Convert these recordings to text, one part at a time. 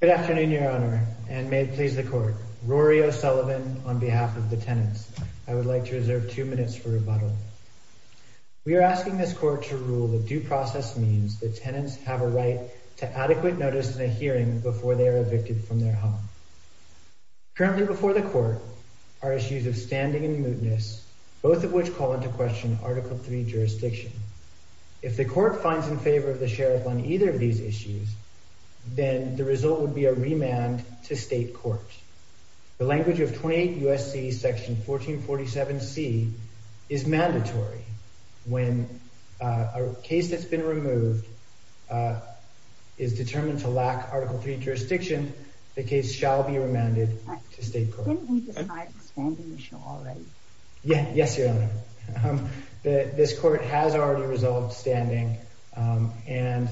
Good afternoon, Your Honor, and may it please the Court. Rory O'Sullivan on behalf of the tenants. I would like to reserve two minutes for rebuttal. We are asking this Court to rule that due process means that tenants have a right to adequate notice in a hearing before they are evicted from their home. Currently before the Court are issues of standing and mootness, both of which call into question Article III jurisdiction. If the Court finds in favor of the Sheriff on either of these issues, then the result would be a remand to State Court. The language of 28 U.S.C. Section 1447C is mandatory. When a case that's been removed is determined to lack Article III jurisdiction, the case shall be remanded to State Court. Didn't we decide expanding the show already? Yes, Your Honor. This Court has already resolved standing, and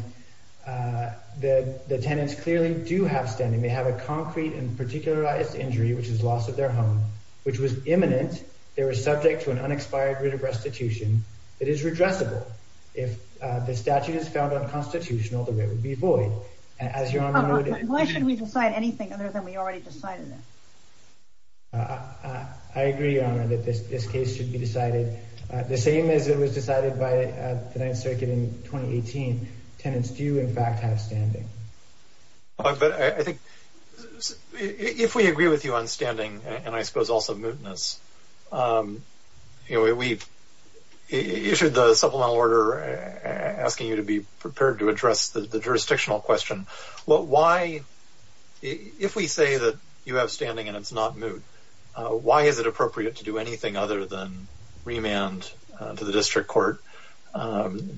the tenants clearly do have standing. They have a concrete and particularized injury, which is loss of their home, which was imminent. They were subject to an unexpired writ of restitution that is redressable. If the statute is found unconstitutional, the writ would be void. Why should we decide anything other than we already decided it? I agree, Your Honor, that this case should be decided the same as it was decided by the Ninth Circuit in 2018. Tenants do, in fact, have standing. But I think if we agree with you on standing, and I suppose also mootness, we issued the supplemental order asking you to be prepared to address the jurisdictional question. If we say that you have standing and it's not moot, why is it appropriate to do anything other than remand to the District Court,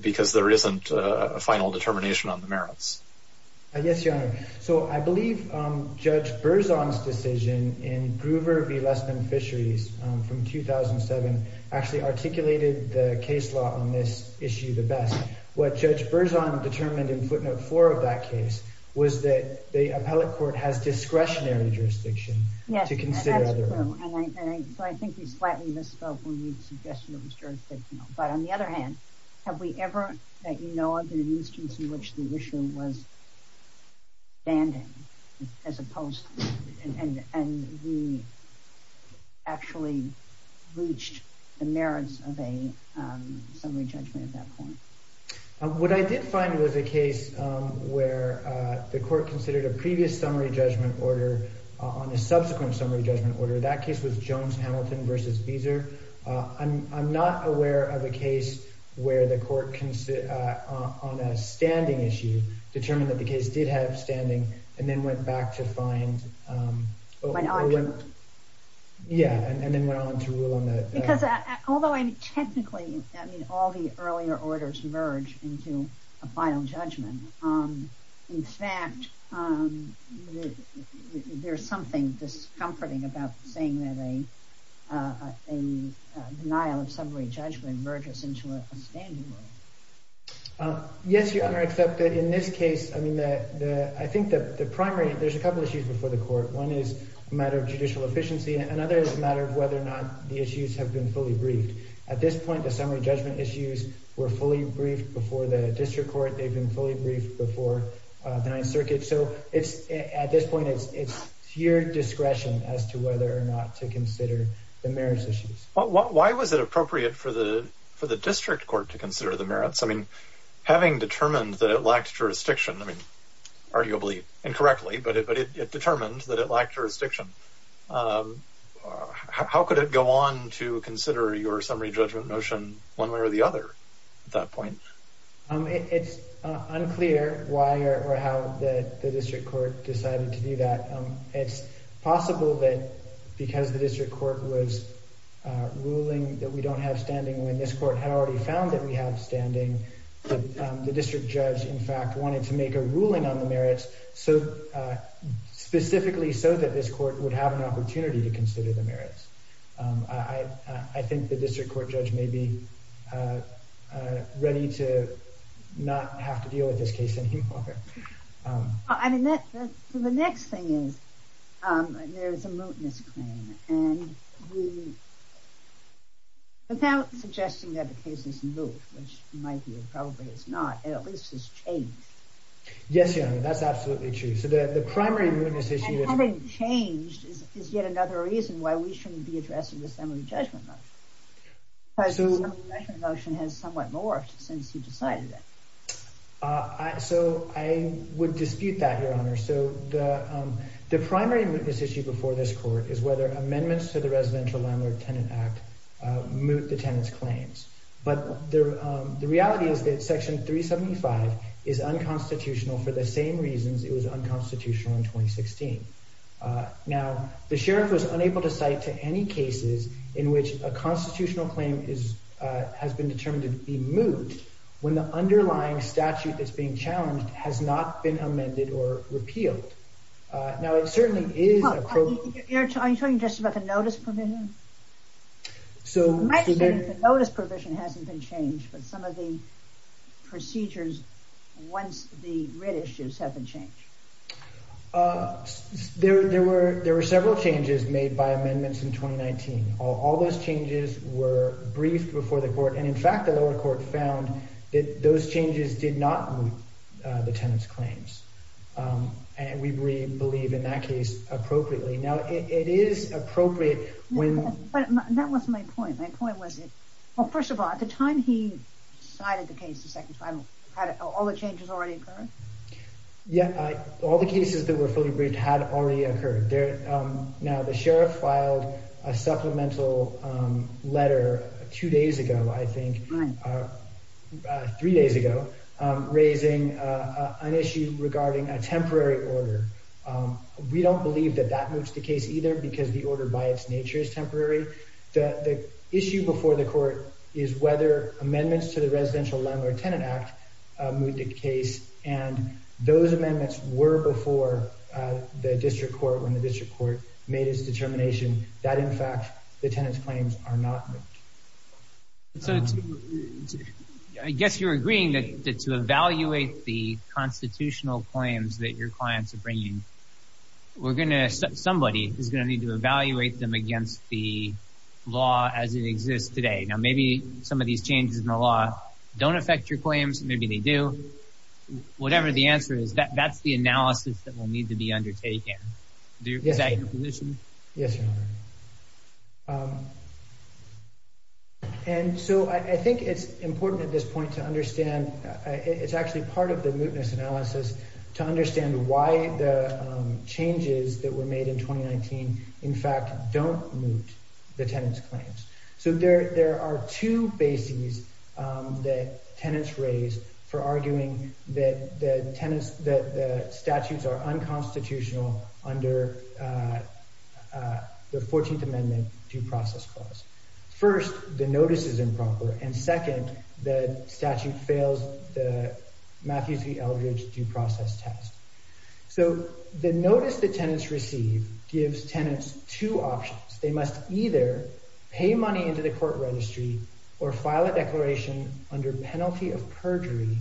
because there isn't a final determination on the merits? Yes, Your Honor. I believe Judge Berzon's decision in Groover v. Lessman Fisheries from 2007 actually articulated the case law on this issue the best. What Judge Berzon determined in footnote 4 of that case was that the appellate court has discretionary jurisdiction to consider other... Yes, that's true. So I think we slightly misspoke when we suggested it was jurisdictional. But on the other hand, have we ever, that you know of, had an instance in which the issue was standing as opposed... and we actually reached the merits of a summary judgment at that point? What I did find was a case where the court considered a previous summary judgment order on a subsequent summary judgment order. That case was Jones-Hamilton v. Beazer. I'm not aware of a case where the court, on a standing issue, determined that the case did have standing and then went back to find... Went on to... Yeah, and then went on to rule on that. Because although technically all the earlier orders merge into a final judgment, in fact, there's something discomforting about saying that a denial of summary judgment merges into a standing rule. Yes, Your Honor, except that in this case, I think the primary... There's a couple of issues before the court. One is a matter of judicial efficiency. Another is a matter of whether or not the issues have been fully briefed. At this point, the summary judgment issues were fully briefed before the district court. They've been fully briefed before the Ninth Circuit. So at this point, it's at your discretion as to whether or not to consider the merits issues. Why was it appropriate for the district court to consider the merits? I mean, having determined that it lacked jurisdiction, I mean, arguably incorrectly, but it determined that it lacked jurisdiction, how could it go on to consider your summary judgment motion one way or the other at that point? It's unclear why or how the district court decided to do that. It's possible that because the district court was ruling that we don't have standing when this court had already found that we have standing, the district judge, in fact, wanted to make a ruling on the merits, specifically so that this court would have an opportunity to consider the merits. I think the district court judge may be ready to not have to deal with this case any longer. I mean, the next thing is there is a mootness claim, and without suggesting that the case is moot, which it might be or probably it's not, at least it's changed. Yes, Your Honor, that's absolutely true. So the primary mootness issue is— And having changed is yet another reason why we shouldn't be addressing the summary judgment motion, because the summary judgment motion has somewhat morphed since you decided it. So I would dispute that, Your Honor. So the primary mootness issue before this court is whether amendments to the Residential Landlord-Tenant Act moot the tenant's claims. But the reality is that Section 375 is unconstitutional for the same reasons it was unconstitutional in 2016. Now, the sheriff was unable to cite to any cases in which a constitutional claim has been determined to be moot when the underlying statute that's being challenged has not been amended or repealed. Now, it certainly is— Are you talking just about the notice provision? So— In my opinion, the notice provision hasn't been changed, but some of the procedures once the writ issues have been changed. There were several changes made by amendments in 2019. All those changes were briefed before the court, and in fact, the lower court found that those changes did not moot the tenant's claims. And we believe in that case appropriately. Now, it is appropriate when— But that was my point. My point was— Well, first of all, at the time he cited the case, the second time, had all the changes already occurred? Yeah. All the cases that were fully briefed had already occurred. Now, the sheriff filed a supplemental letter two days ago, I think. Three days ago. Raising an issue regarding a temporary order. We don't believe that that moots the case either because the order by its nature is temporary. The issue before the court is whether amendments to the Residential Landlord-Tenant Act moot the case, and those amendments were before the district court, when the district court made its determination that, in fact, the tenant's claims are not moot. I guess you're agreeing that to evaluate the constitutional claims that your clients are bringing, somebody is going to need to evaluate them against the law as it exists today. Now, maybe some of these changes in the law don't affect your claims. Maybe they do. Whatever the answer is, that's the analysis that will need to be undertaken. Is that your position? Yes, Your Honor. I think it's important at this point to understand—it's actually part of the mootness analysis— to understand why the changes that were made in 2019, in fact, don't moot the tenant's claims. There are two bases that tenants raise for arguing that the statutes are unconstitutional under the 14th Amendment due process clause. First, the notice is improper, and second, the statute fails the Matthews v. Eldridge due process test. The notice that tenants receive gives tenants two options. They must either pay money into the court registry or file a declaration under penalty of perjury,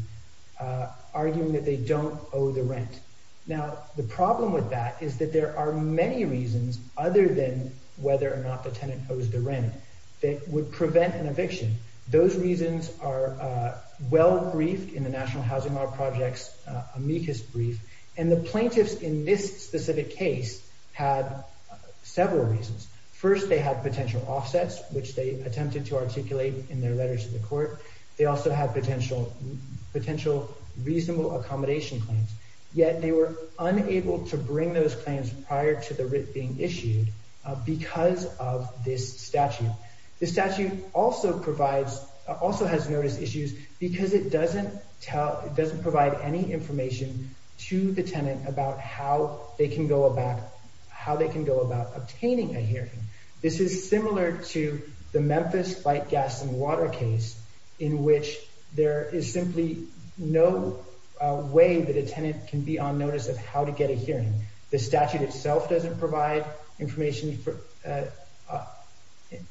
arguing that they don't owe the rent. Now, the problem with that is that there are many reasons other than whether or not the tenant owes the rent that would prevent an eviction. Those reasons are well briefed in the National Housing Law Project's amicus brief, and the plaintiffs in this specific case had several reasons. First, they had potential offsets, which they attempted to articulate in their letters to the court. They also had potential reasonable accommodation claims. Yet they were unable to bring those claims prior to the writ being issued because of this statute. The statute also has notice issues because it doesn't provide any information to the tenant about how they can go about obtaining a hearing. This is similar to the Memphis light, gas, and water case in which there is simply no way that a tenant can be on notice of how to get a hearing. The statute itself doesn't provide information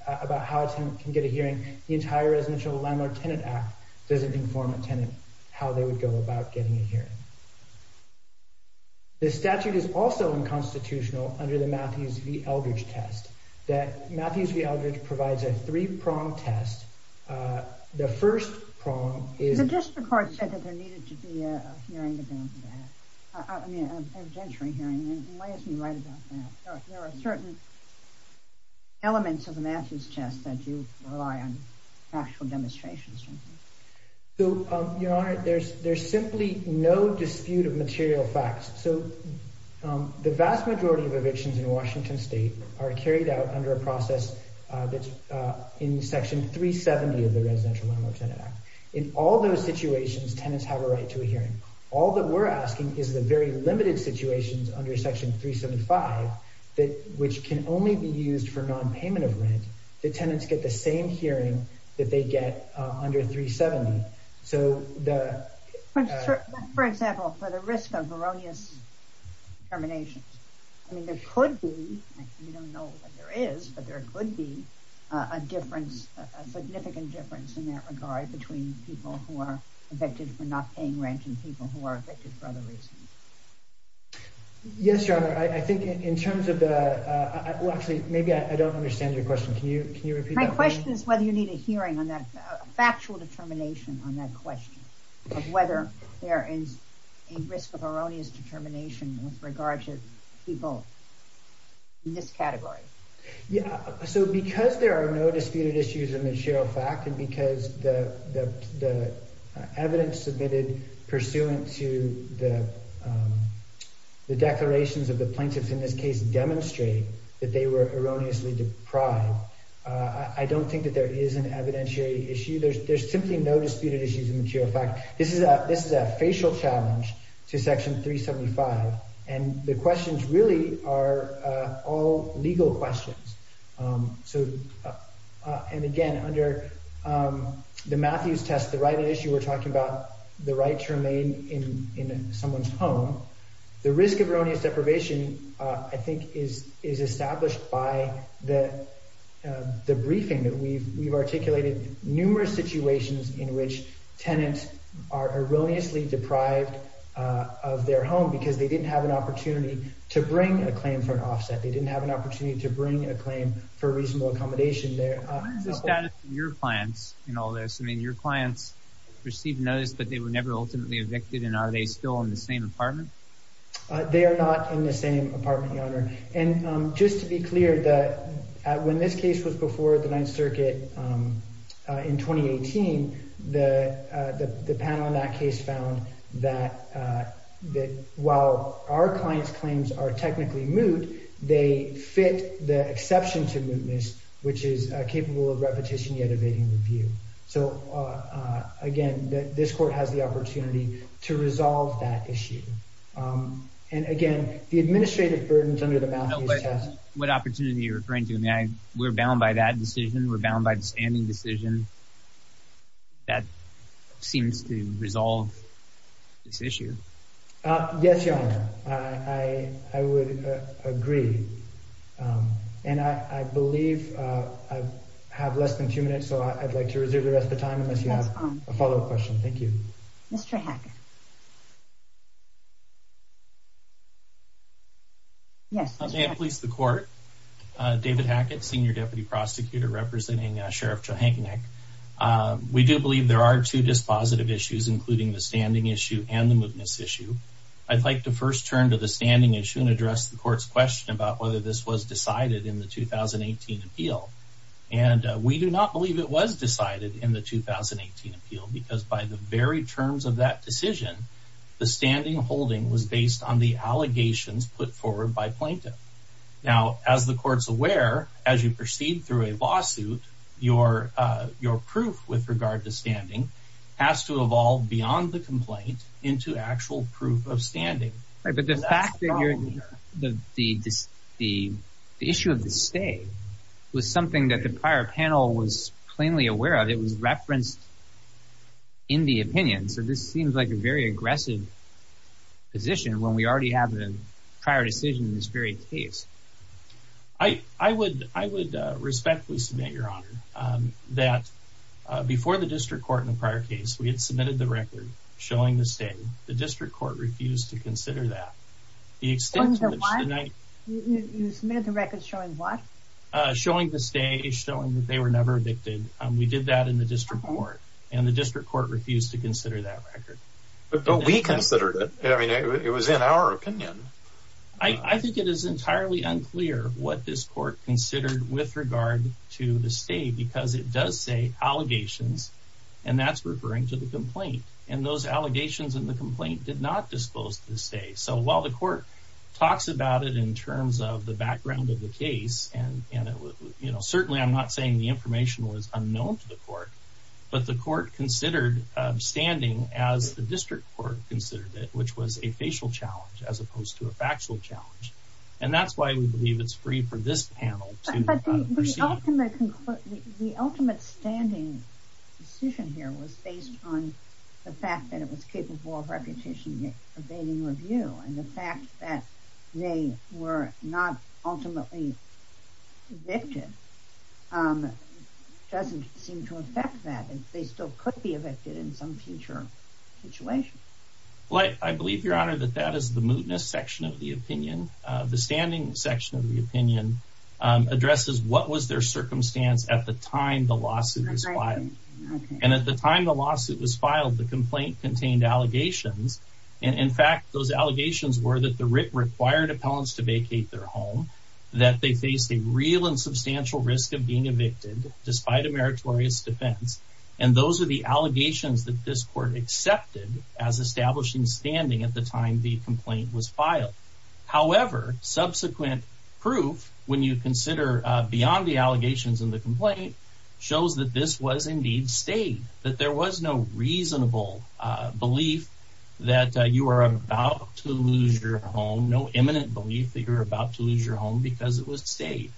about how a tenant can get a hearing. The entire Residential Landlord-Tenant Act doesn't inform a tenant how they would go about getting a hearing. The statute is also unconstitutional under the Matthews v. Eldridge test. Matthews v. Eldridge provides a three-prong test. The first prong is... The district court said that there needed to be a hearing about that. I mean, an evidentiary hearing. Why isn't he right about that? There are certain elements of the Matthews test that you rely on factual demonstrations from. Your Honor, there's simply no dispute of material facts. The vast majority of evictions in Washington state are carried out under a process that's in Section 370 of the Residential Landlord-Tenant Act. In all those situations, tenants have a right to a hearing. All that we're asking is the very limited situations under Section 375, which can only be used for non-payment of rent, that tenants get the same hearing that they get under 370. For example, for the risk of erroneous determinations, there could be a significant difference in that regard between people who are evicted for not paying rent and people who are evicted for other reasons. Yes, Your Honor. I think in terms of the... Actually, maybe I don't understand your question. Can you repeat that? My question is whether you need a hearing on that factual determination on that question of whether there is a risk of erroneous determination with regard to people in this category. So because there are no disputed issues of material fact and because the evidence submitted pursuant to the declarations of the plaintiffs in this case demonstrate that they were erroneously deprived, I don't think that there is an evidentiary issue. There's simply no disputed issues of material fact. This is a facial challenge to Section 375, and the questions really are all legal questions. And again, under the Matthews test, the right of issue, we're talking about the right to remain in someone's home. The risk of erroneous deprivation I think is established by the briefing that we've articulated numerous situations in which tenants are erroneously deprived of their home because they didn't have an opportunity to bring a claim for an offset. They didn't have an opportunity to bring a claim for reasonable accommodation. What is the status of your clients in all this? I mean, your clients received notice, but they were never ultimately evicted, and are they still in the same apartment? They are not in the same apartment, Your Honor. And just to be clear, when this case was before the Ninth Circuit in 2018, the panel in that case found that while our clients' claims are technically moot, they fit the exception to mootness, which is capable of repetition yet evading review. So again, this court has the opportunity to resolve that issue. And again, the administrative burden is under the Matthews test. What opportunity are you referring to? I mean, we're bound by that decision. We're bound by the standing decision that seems to resolve this issue. Yes, Your Honor. I would agree. And I believe I have less than two minutes, so I'd like to reserve the rest of the time unless you have a follow-up question. Thank you. Mr. Hackett. May it please the Court? David Hackett, Senior Deputy Prosecutor representing Sheriff Czajnik. We do believe there are two dispositive issues, including the standing issue and the mootness issue. I'd like to first turn to the standing issue and address the Court's question about whether this was decided in the 2018 appeal. And we do not believe it was decided in the 2018 appeal because by the very terms of that decision, the standing holding was based on the allegations put forward by plaintiff. Now, as the Court's aware, as you proceed through a lawsuit, your proof with regard to standing has to evolve beyond the complaint into actual proof of standing. But the fact that the issue of the stay was something that the prior panel was plainly aware of, it was referenced in the opinion. So this seems like a very aggressive position when we already have the prior decision in this very case. I would respectfully submit, Your Honor, that before the District Court in the prior case, we had submitted the record showing the stay. The District Court refused to consider that. Showing the what? You submitted the record showing what? Showing the stay, showing that they were never evicted. We did that in the District Court, and the District Court refused to consider that record. But we considered it. I mean, it was in our opinion. I think it is entirely unclear what this Court considered with regard to the stay because it does say allegations, and that's referring to the complaint. And those allegations in the complaint did not dispose of the stay. So while the Court talks about it in terms of the background of the case, and certainly I'm not saying the information was unknown to the Court, but the Court considered standing as the District Court considered it, which was a facial challenge as opposed to a factual challenge. And that's why we believe it's free for this panel to proceed. The ultimate standing decision here was based on the fact that it was capable of reputation evading review. And the fact that they were not ultimately evicted doesn't seem to affect that. They still could be evicted in some future situation. Well, I believe, Your Honor, that that is the mootness section of the opinion. The standing section of the opinion addresses what was their circumstance at the time the lawsuit was filed. And at the time the lawsuit was filed, the complaint contained allegations. And in fact, those allegations were that the writ required appellants to vacate their home, that they faced a real and substantial risk of being evicted despite a meritorious defense. And those are the allegations that this Court accepted as establishing standing at the time the complaint was filed. However, subsequent proof, when you consider beyond the allegations in the complaint, shows that this was indeed stayed, that there was no reasonable belief that you are about to lose your home, no imminent belief that you're about to lose your home because it was stayed.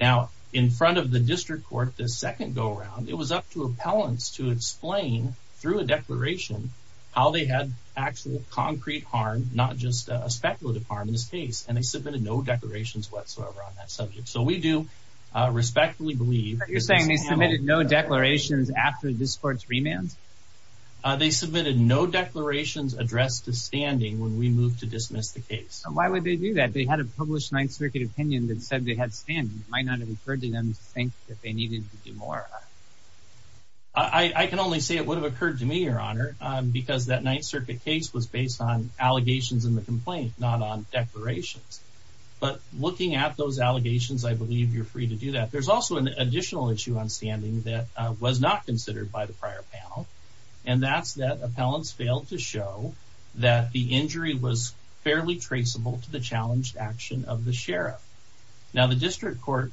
Now, in front of the District Court, the second go-around, it was up to appellants to explain, through a declaration, how they had actual concrete harm, not just a speculative harm in this case. And they submitted no declarations whatsoever on that subject. So we do respectfully believe that this panel... But you're saying they submitted no declarations after this Court's remand? They submitted no declarations addressed to standing when we moved to dismiss the case. So why would they do that? They had a published Ninth Circuit opinion that said they had standing. It might not have occurred to them to think that they needed to do more. I can only say it would have occurred to me, Your Honor, because that Ninth Circuit case was based on allegations in the complaint, not on declarations. But looking at those allegations, I believe you're free to do that. There's also an additional issue on standing that was not considered by the prior panel, and that's that appellants failed to show that the injury was fairly traceable to the challenged action of the sheriff. Now, the District Court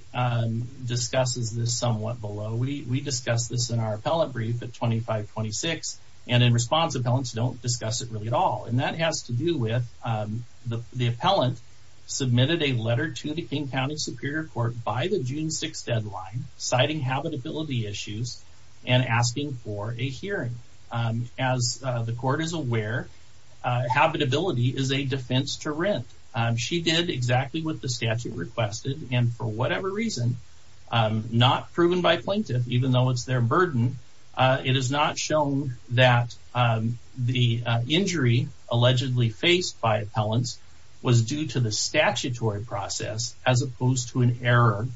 discusses this somewhat below. We discussed this in our appellant brief at 2526, and in response, appellants don't discuss it really at all. And that has to do with the appellant submitted a letter to the King County Superior Court by the June 6th deadline, citing habitability issues and asking for a hearing. As the court is aware, habitability is a defense to rent. She did exactly what the statute requested. And for whatever reason, not proven by plaintiff, even though it's their burden, it is not shown that the injury allegedly faced by appellants was due to the statutory process, as opposed to an error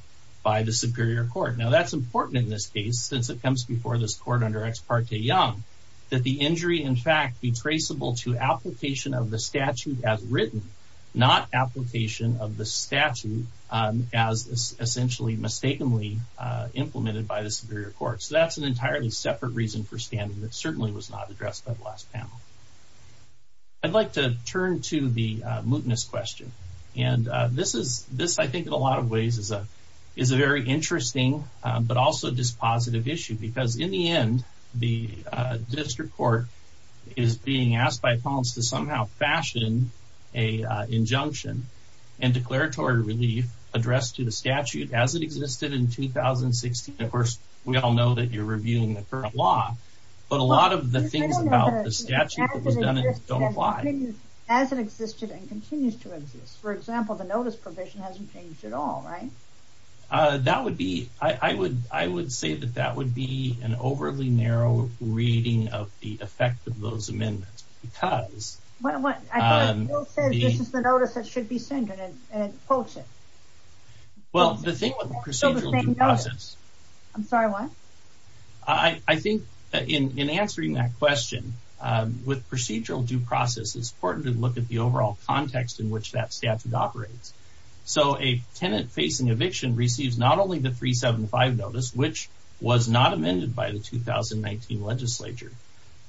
by the Superior Court. Now, that's important in this case, since it comes before this court under Ex parte Young, that the injury, in fact, be traceable to application of the statute as written, not application of the statute as essentially mistakenly implemented by the Superior Court. So that's an entirely separate reason for standing that certainly was not addressed by the last panel. I'd like to turn to the mootness question. And this, I think, in a lot of ways is a very interesting but also dispositive issue, because in the end, the District Court is being asked by appellants to somehow fashion an injunction and declaratory relief addressed to the statute as it existed in 2016. Of course, we all know that you're reviewing the current law, but a lot of the things about the statute that was done in it don't apply. As it existed and continues to exist. For example, the notice provision hasn't changed at all, right? That would be, I would say that that would be an overly narrow reading of the effect of those amendments. Because... I thought Bill said this is the notice that should be sent and quotes it. Well, the thing with procedural due process... I'm sorry, what? I think in answering that question, with procedural due process, it's important to look at the overall context in which that statute operates. So a tenant facing eviction receives not only the 375 notice, which was not amended by the 2019 legislature,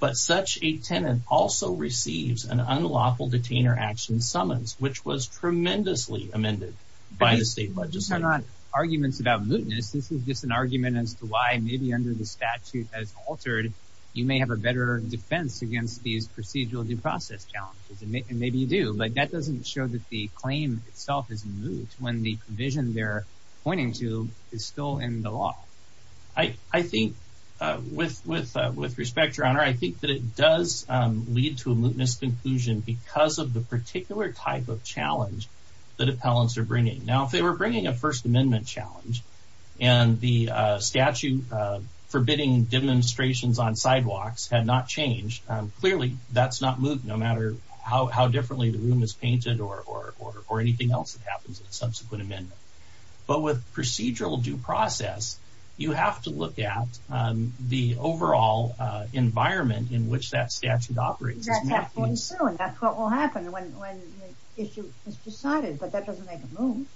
but such a tenant also receives an unlawful detainer action summons, which was tremendously amended by the state legislature. These are not arguments about mootness. This is just an argument as to why maybe under the statute as altered, you may have a better defense against these procedural due process challenges. And maybe you do. But that doesn't show that the claim itself is moot when the provision they're pointing to is still in the law. I think with respect, Your Honor, I think that it does lead to a mootness conclusion because of the particular type of challenge that appellants are bringing. Now, if they were bringing a First Amendment challenge and the statute forbidding demonstrations on sidewalks had not changed, clearly that's not moot no matter how differently the room is painted or anything else that happens in a subsequent amendment. But with procedural due process, you have to look at the overall environment in which that statute operates. That's what will happen when the issue is decided, but that doesn't make it moot.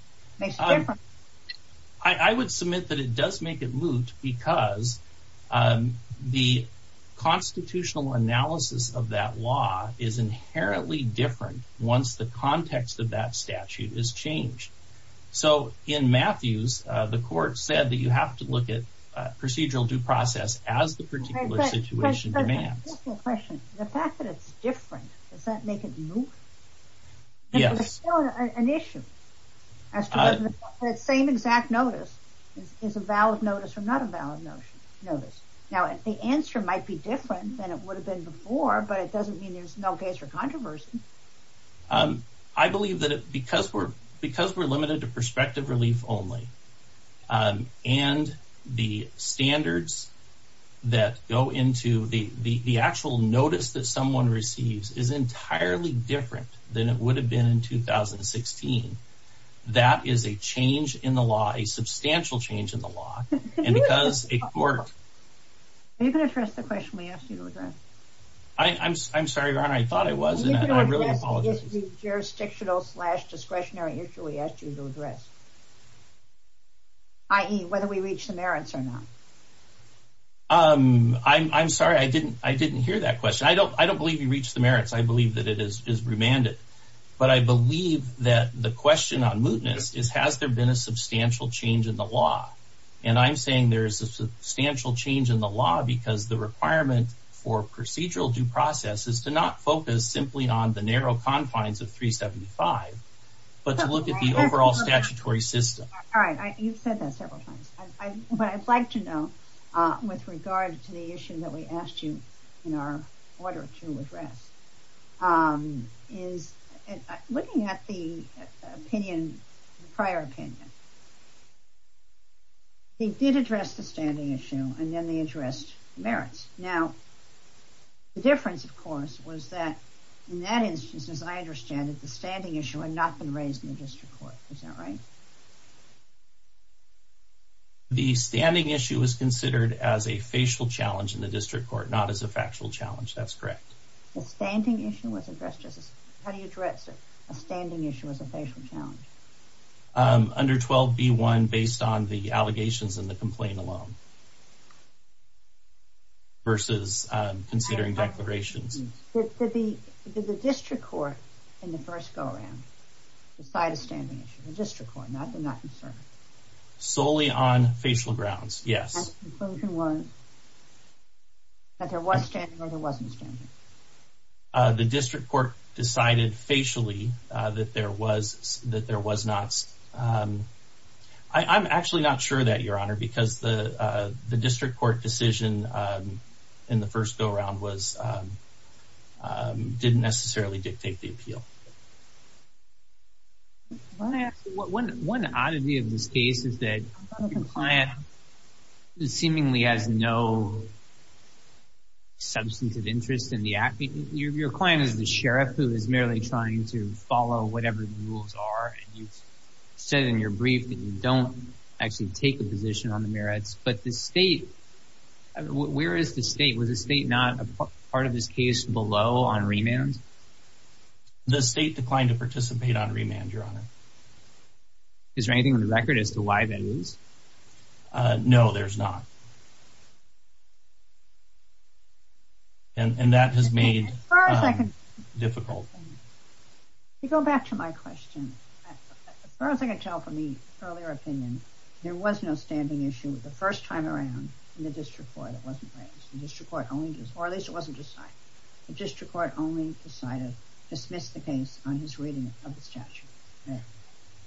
I would submit that it does make it moot because the constitutional analysis of that law is inherently different once the context of that statute is changed. So in Matthews, the court said that you have to look at procedural due process as the particular situation demands. Just a question. The fact that it's different, does that make it moot? Yes. It's still an issue as to whether that same exact notice is a valid notice or not a valid notice. Now, the answer might be different than it would have been before, but it doesn't mean there's no case for controversy. I believe that because we're limited to prospective relief only and the standards that go into the actual notice that someone receives is entirely different than it would have been in 2016, that is a change in the law, a substantial change in the law, and because a court... You can address the question we asked you to address. I'm sorry, Ron, I thought I was. I really apologize. You can address the jurisdictional-slash-discretionary issue we asked you to address, i.e., whether we reach the merits or not. I'm sorry, I didn't hear that question. I don't believe you reached the merits. I believe that it is remanded. But I believe that the question on mootness is, has there been a substantial change in the law? And I'm saying there is a substantial change in the law because the requirement for procedural due process is to not focus simply on the narrow confines of 375, but to look at the overall statutory system. All right, you've said that several times. What I'd like to know with regard to the issue that we asked you in our order to address is looking at the prior opinion, he did address the standing issue, and then he addressed merits. Now, the difference, of course, was that in that instance, as I understand it, the standing issue had not been raised in the district court. Is that right? The standing issue was considered as a facial challenge in the district court, not as a factual challenge. That's correct. The standing issue was addressed as a... How do you address a standing issue as a facial challenge? Under 12B1, based on the allegations in the complaint alone, versus considering declarations. Did the district court in the first go-around decide a standing issue? The district court. Now, I'm not concerned. Solely on facial grounds, yes. The conclusion was that there was standing or there wasn't standing. The district court decided facially that there was not. I'm actually not sure of that, Your Honor, because the district court decision in the first go-around didn't necessarily dictate the appeal. One oddity of this case is that the client seemingly has no substantive interest in the act. Your client is the sheriff who is merely trying to follow whatever the rules are, and you've said in your brief that you don't actually take a position on the merits, but the state... Where is the state? Was the state not a part of this case below on remand? The state declined to participate on remand, Your Honor. Is there anything on the record as to why that is? No, there's not. And that has made it difficult. To go back to my question, as far as I can tell from the earlier opinion, there was no standing issue the first time around in the district court. It wasn't raised in the district court, or at least it wasn't decided. The district court only decided to dismiss the case on his reading of the statute.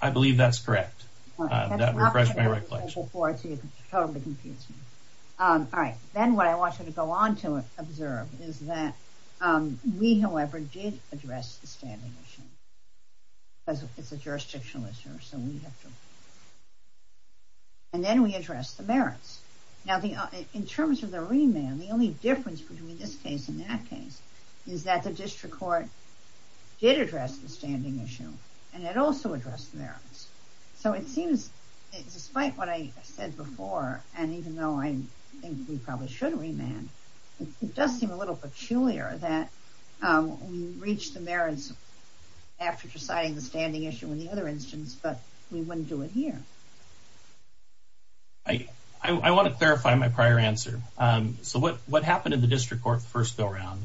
I believe that's correct. That refreshes my recollection. I'm looking forward to it. It totally confuses me. All right. Then what I want you to go on to observe is that we, however, did address the standing issue. It's a jurisdictional issue, so we have to... And then we addressed the merits. Now, in terms of the remand, the only difference between this case and that case is that the district court did address the standing issue, and it also addressed the merits. So it seems, despite what I said before, and even though I think we probably should remand, it does seem a little peculiar that we reached the merits after deciding the standing issue in the other instance, but we wouldn't do it here. I want to clarify my prior answer. So what happened in the district court the first go-round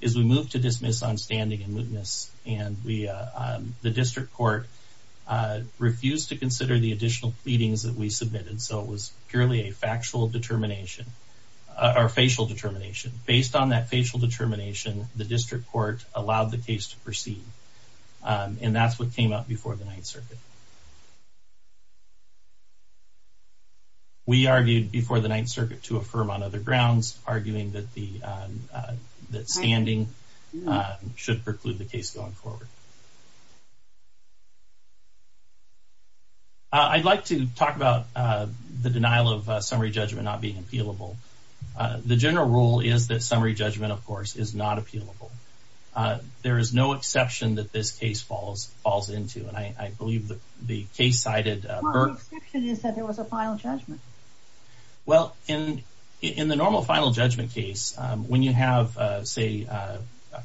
is we moved to dismiss on standing and mootness, and the district court refused to consider the additional pleadings that we submitted, so it was purely a factual determination, or facial determination. Based on that facial determination, the district court allowed the case to proceed, and that's what came up before the Ninth Circuit. We argued before the Ninth Circuit to affirm on other grounds, arguing that standing should preclude the case going forward. I'd like to talk about the denial of summary judgment not being appealable. The general rule is that summary judgment, of course, is not appealable. There is no exception that this case falls into, and I believe the case cited... Well, the exception is that there was a final judgment. Well, in the normal final judgment case, when you have, say,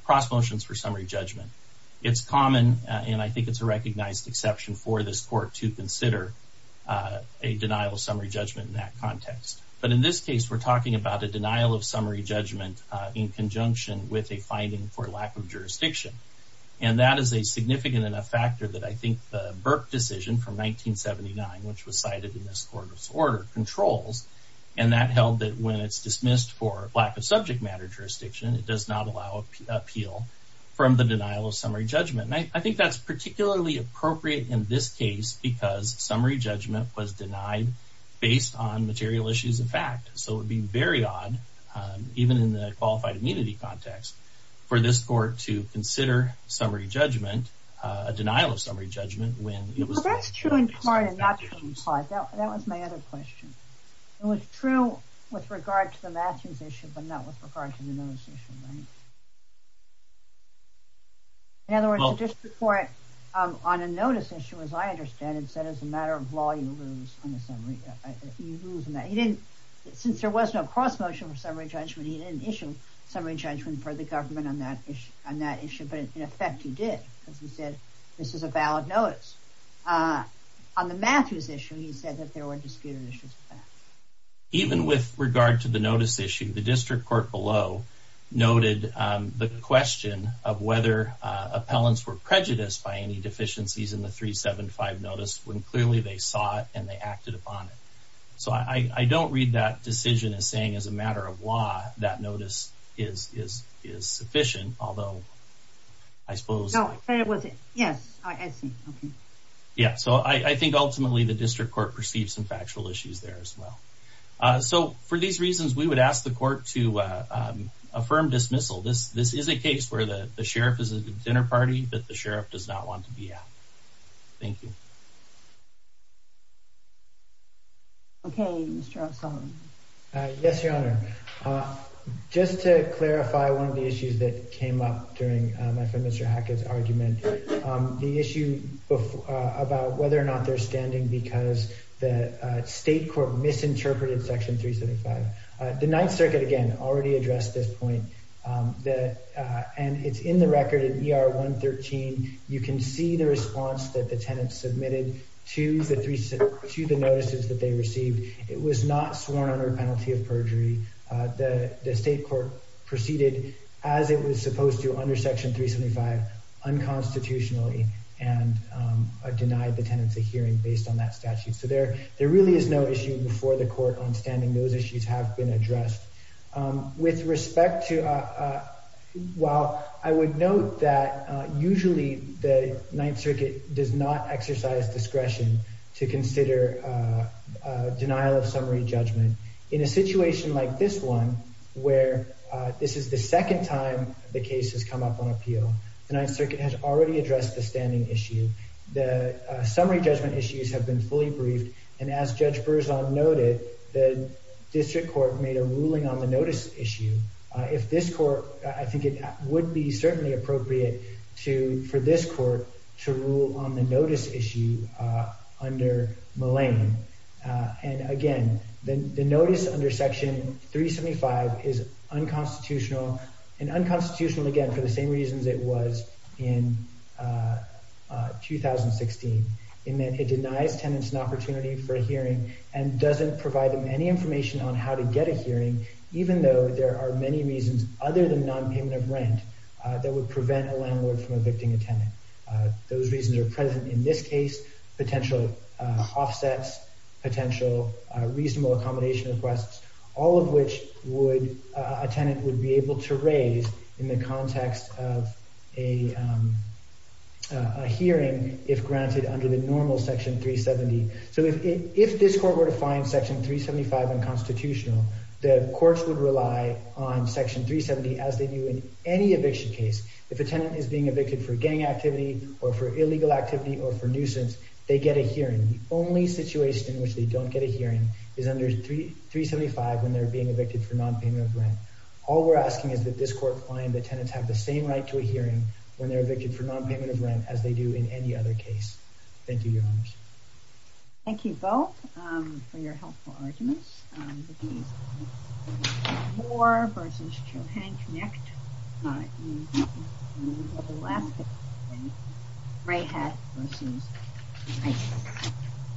cross motions for summary judgment, it's common, and I think it's a recognized exception for this court to consider a denial of summary judgment in that context. But in this case, we're talking about a denial of summary judgment in conjunction with a finding for lack of jurisdiction. And that is a significant enough factor that I think the Burke decision from 1979, which was cited in this court's order, controls, and that held that when it's dismissed for lack of subject matter jurisdiction, it does not allow appeal from the denial of summary judgment. And I think that's particularly appropriate in this case because summary judgment was denied based on material issues of fact. So it would be very odd, even in the qualified immunity context, for this court to consider summary judgment, a denial of summary judgment when it was... True in part and not true in part. That was my other question. It was true with regard to the Matthews issue, but not with regard to the notice issue, right? In other words, the district court, on a notice issue, as I understand it, said as a matter of law, you lose on a summary... You lose on that. Since there was no cross motion for summary judgment, he didn't issue summary judgment for the government on that issue, but in effect he did because he said this is a valid notice. On the Matthews issue, he said that there were disputed issues. Even with regard to the notice issue, the district court below noted the question of whether appellants were prejudiced by any deficiencies in the 375 notice when clearly they saw it and they acted upon it. So I don't read that decision as saying as a matter of law that that notice is sufficient, although I suppose... No, it wasn't. Yes, I see. Yeah, so I think ultimately the district court perceived some factual issues there as well. So for these reasons, we would ask the court to affirm dismissal. This is a case where the sheriff is a dinner party that the sheriff does not want to be at. Thank you. Okay, Mr. O'Sullivan. Yes, Your Honor. Just to clarify one of the issues that came up during my friend Mr. Hackett's argument, the issue about whether or not they're standing because the state court misinterpreted Section 375. The Ninth Circuit, again, already addressed this point, and it's in the record in ER 113. You can see the response that the tenant submitted to the notices that they received. It was not sworn under a penalty of perjury. The state court proceeded as it was supposed to under Section 375 unconstitutionally and denied the tenants a hearing based on that statute. So there really is no issue before the court on standing. Those issues have been addressed. With respect to... While I would note that usually the Ninth Circuit does not exercise discretion to consider denial of summary judgment, in a situation like this one, where this is the second time the case has come up on appeal, the Ninth Circuit has already addressed the standing issue. The summary judgment issues have been fully briefed, and as Judge Berzon noted, the district court made a ruling on the notice issue. If this court... I think it would be certainly appropriate for this court to rule on the notice issue under Mullane. And, again, the notice under Section 375 is unconstitutional, and unconstitutional, again, for the same reasons it was in 2016, in that it denies tenants an opportunity for a hearing and doesn't provide them any information on how to get a hearing, even though there are many reasons, other than nonpayment of rent, that would prevent a landlord from evicting a tenant. Those reasons are present in this case, potential offsets, potential reasonable accommodation requests, all of which a tenant would be able to raise in the context of a hearing, if granted under the normal Section 370. So if this court were to find Section 375 unconstitutional, the courts would rely on Section 370 as they do in any eviction case. If a tenant is being evicted for gang activity or for illegal activity or for nuisance, they get a hearing. The only situation in which they don't get a hearing is under 375 when they're being evicted for nonpayment of rent. All we're asking is that this court find that tenants have the same right to a hearing when they're evicted for nonpayment of rent as they do in any other case. Thank you, Your Honors. Thank you both for your helpful arguments. Thank you. Thank you.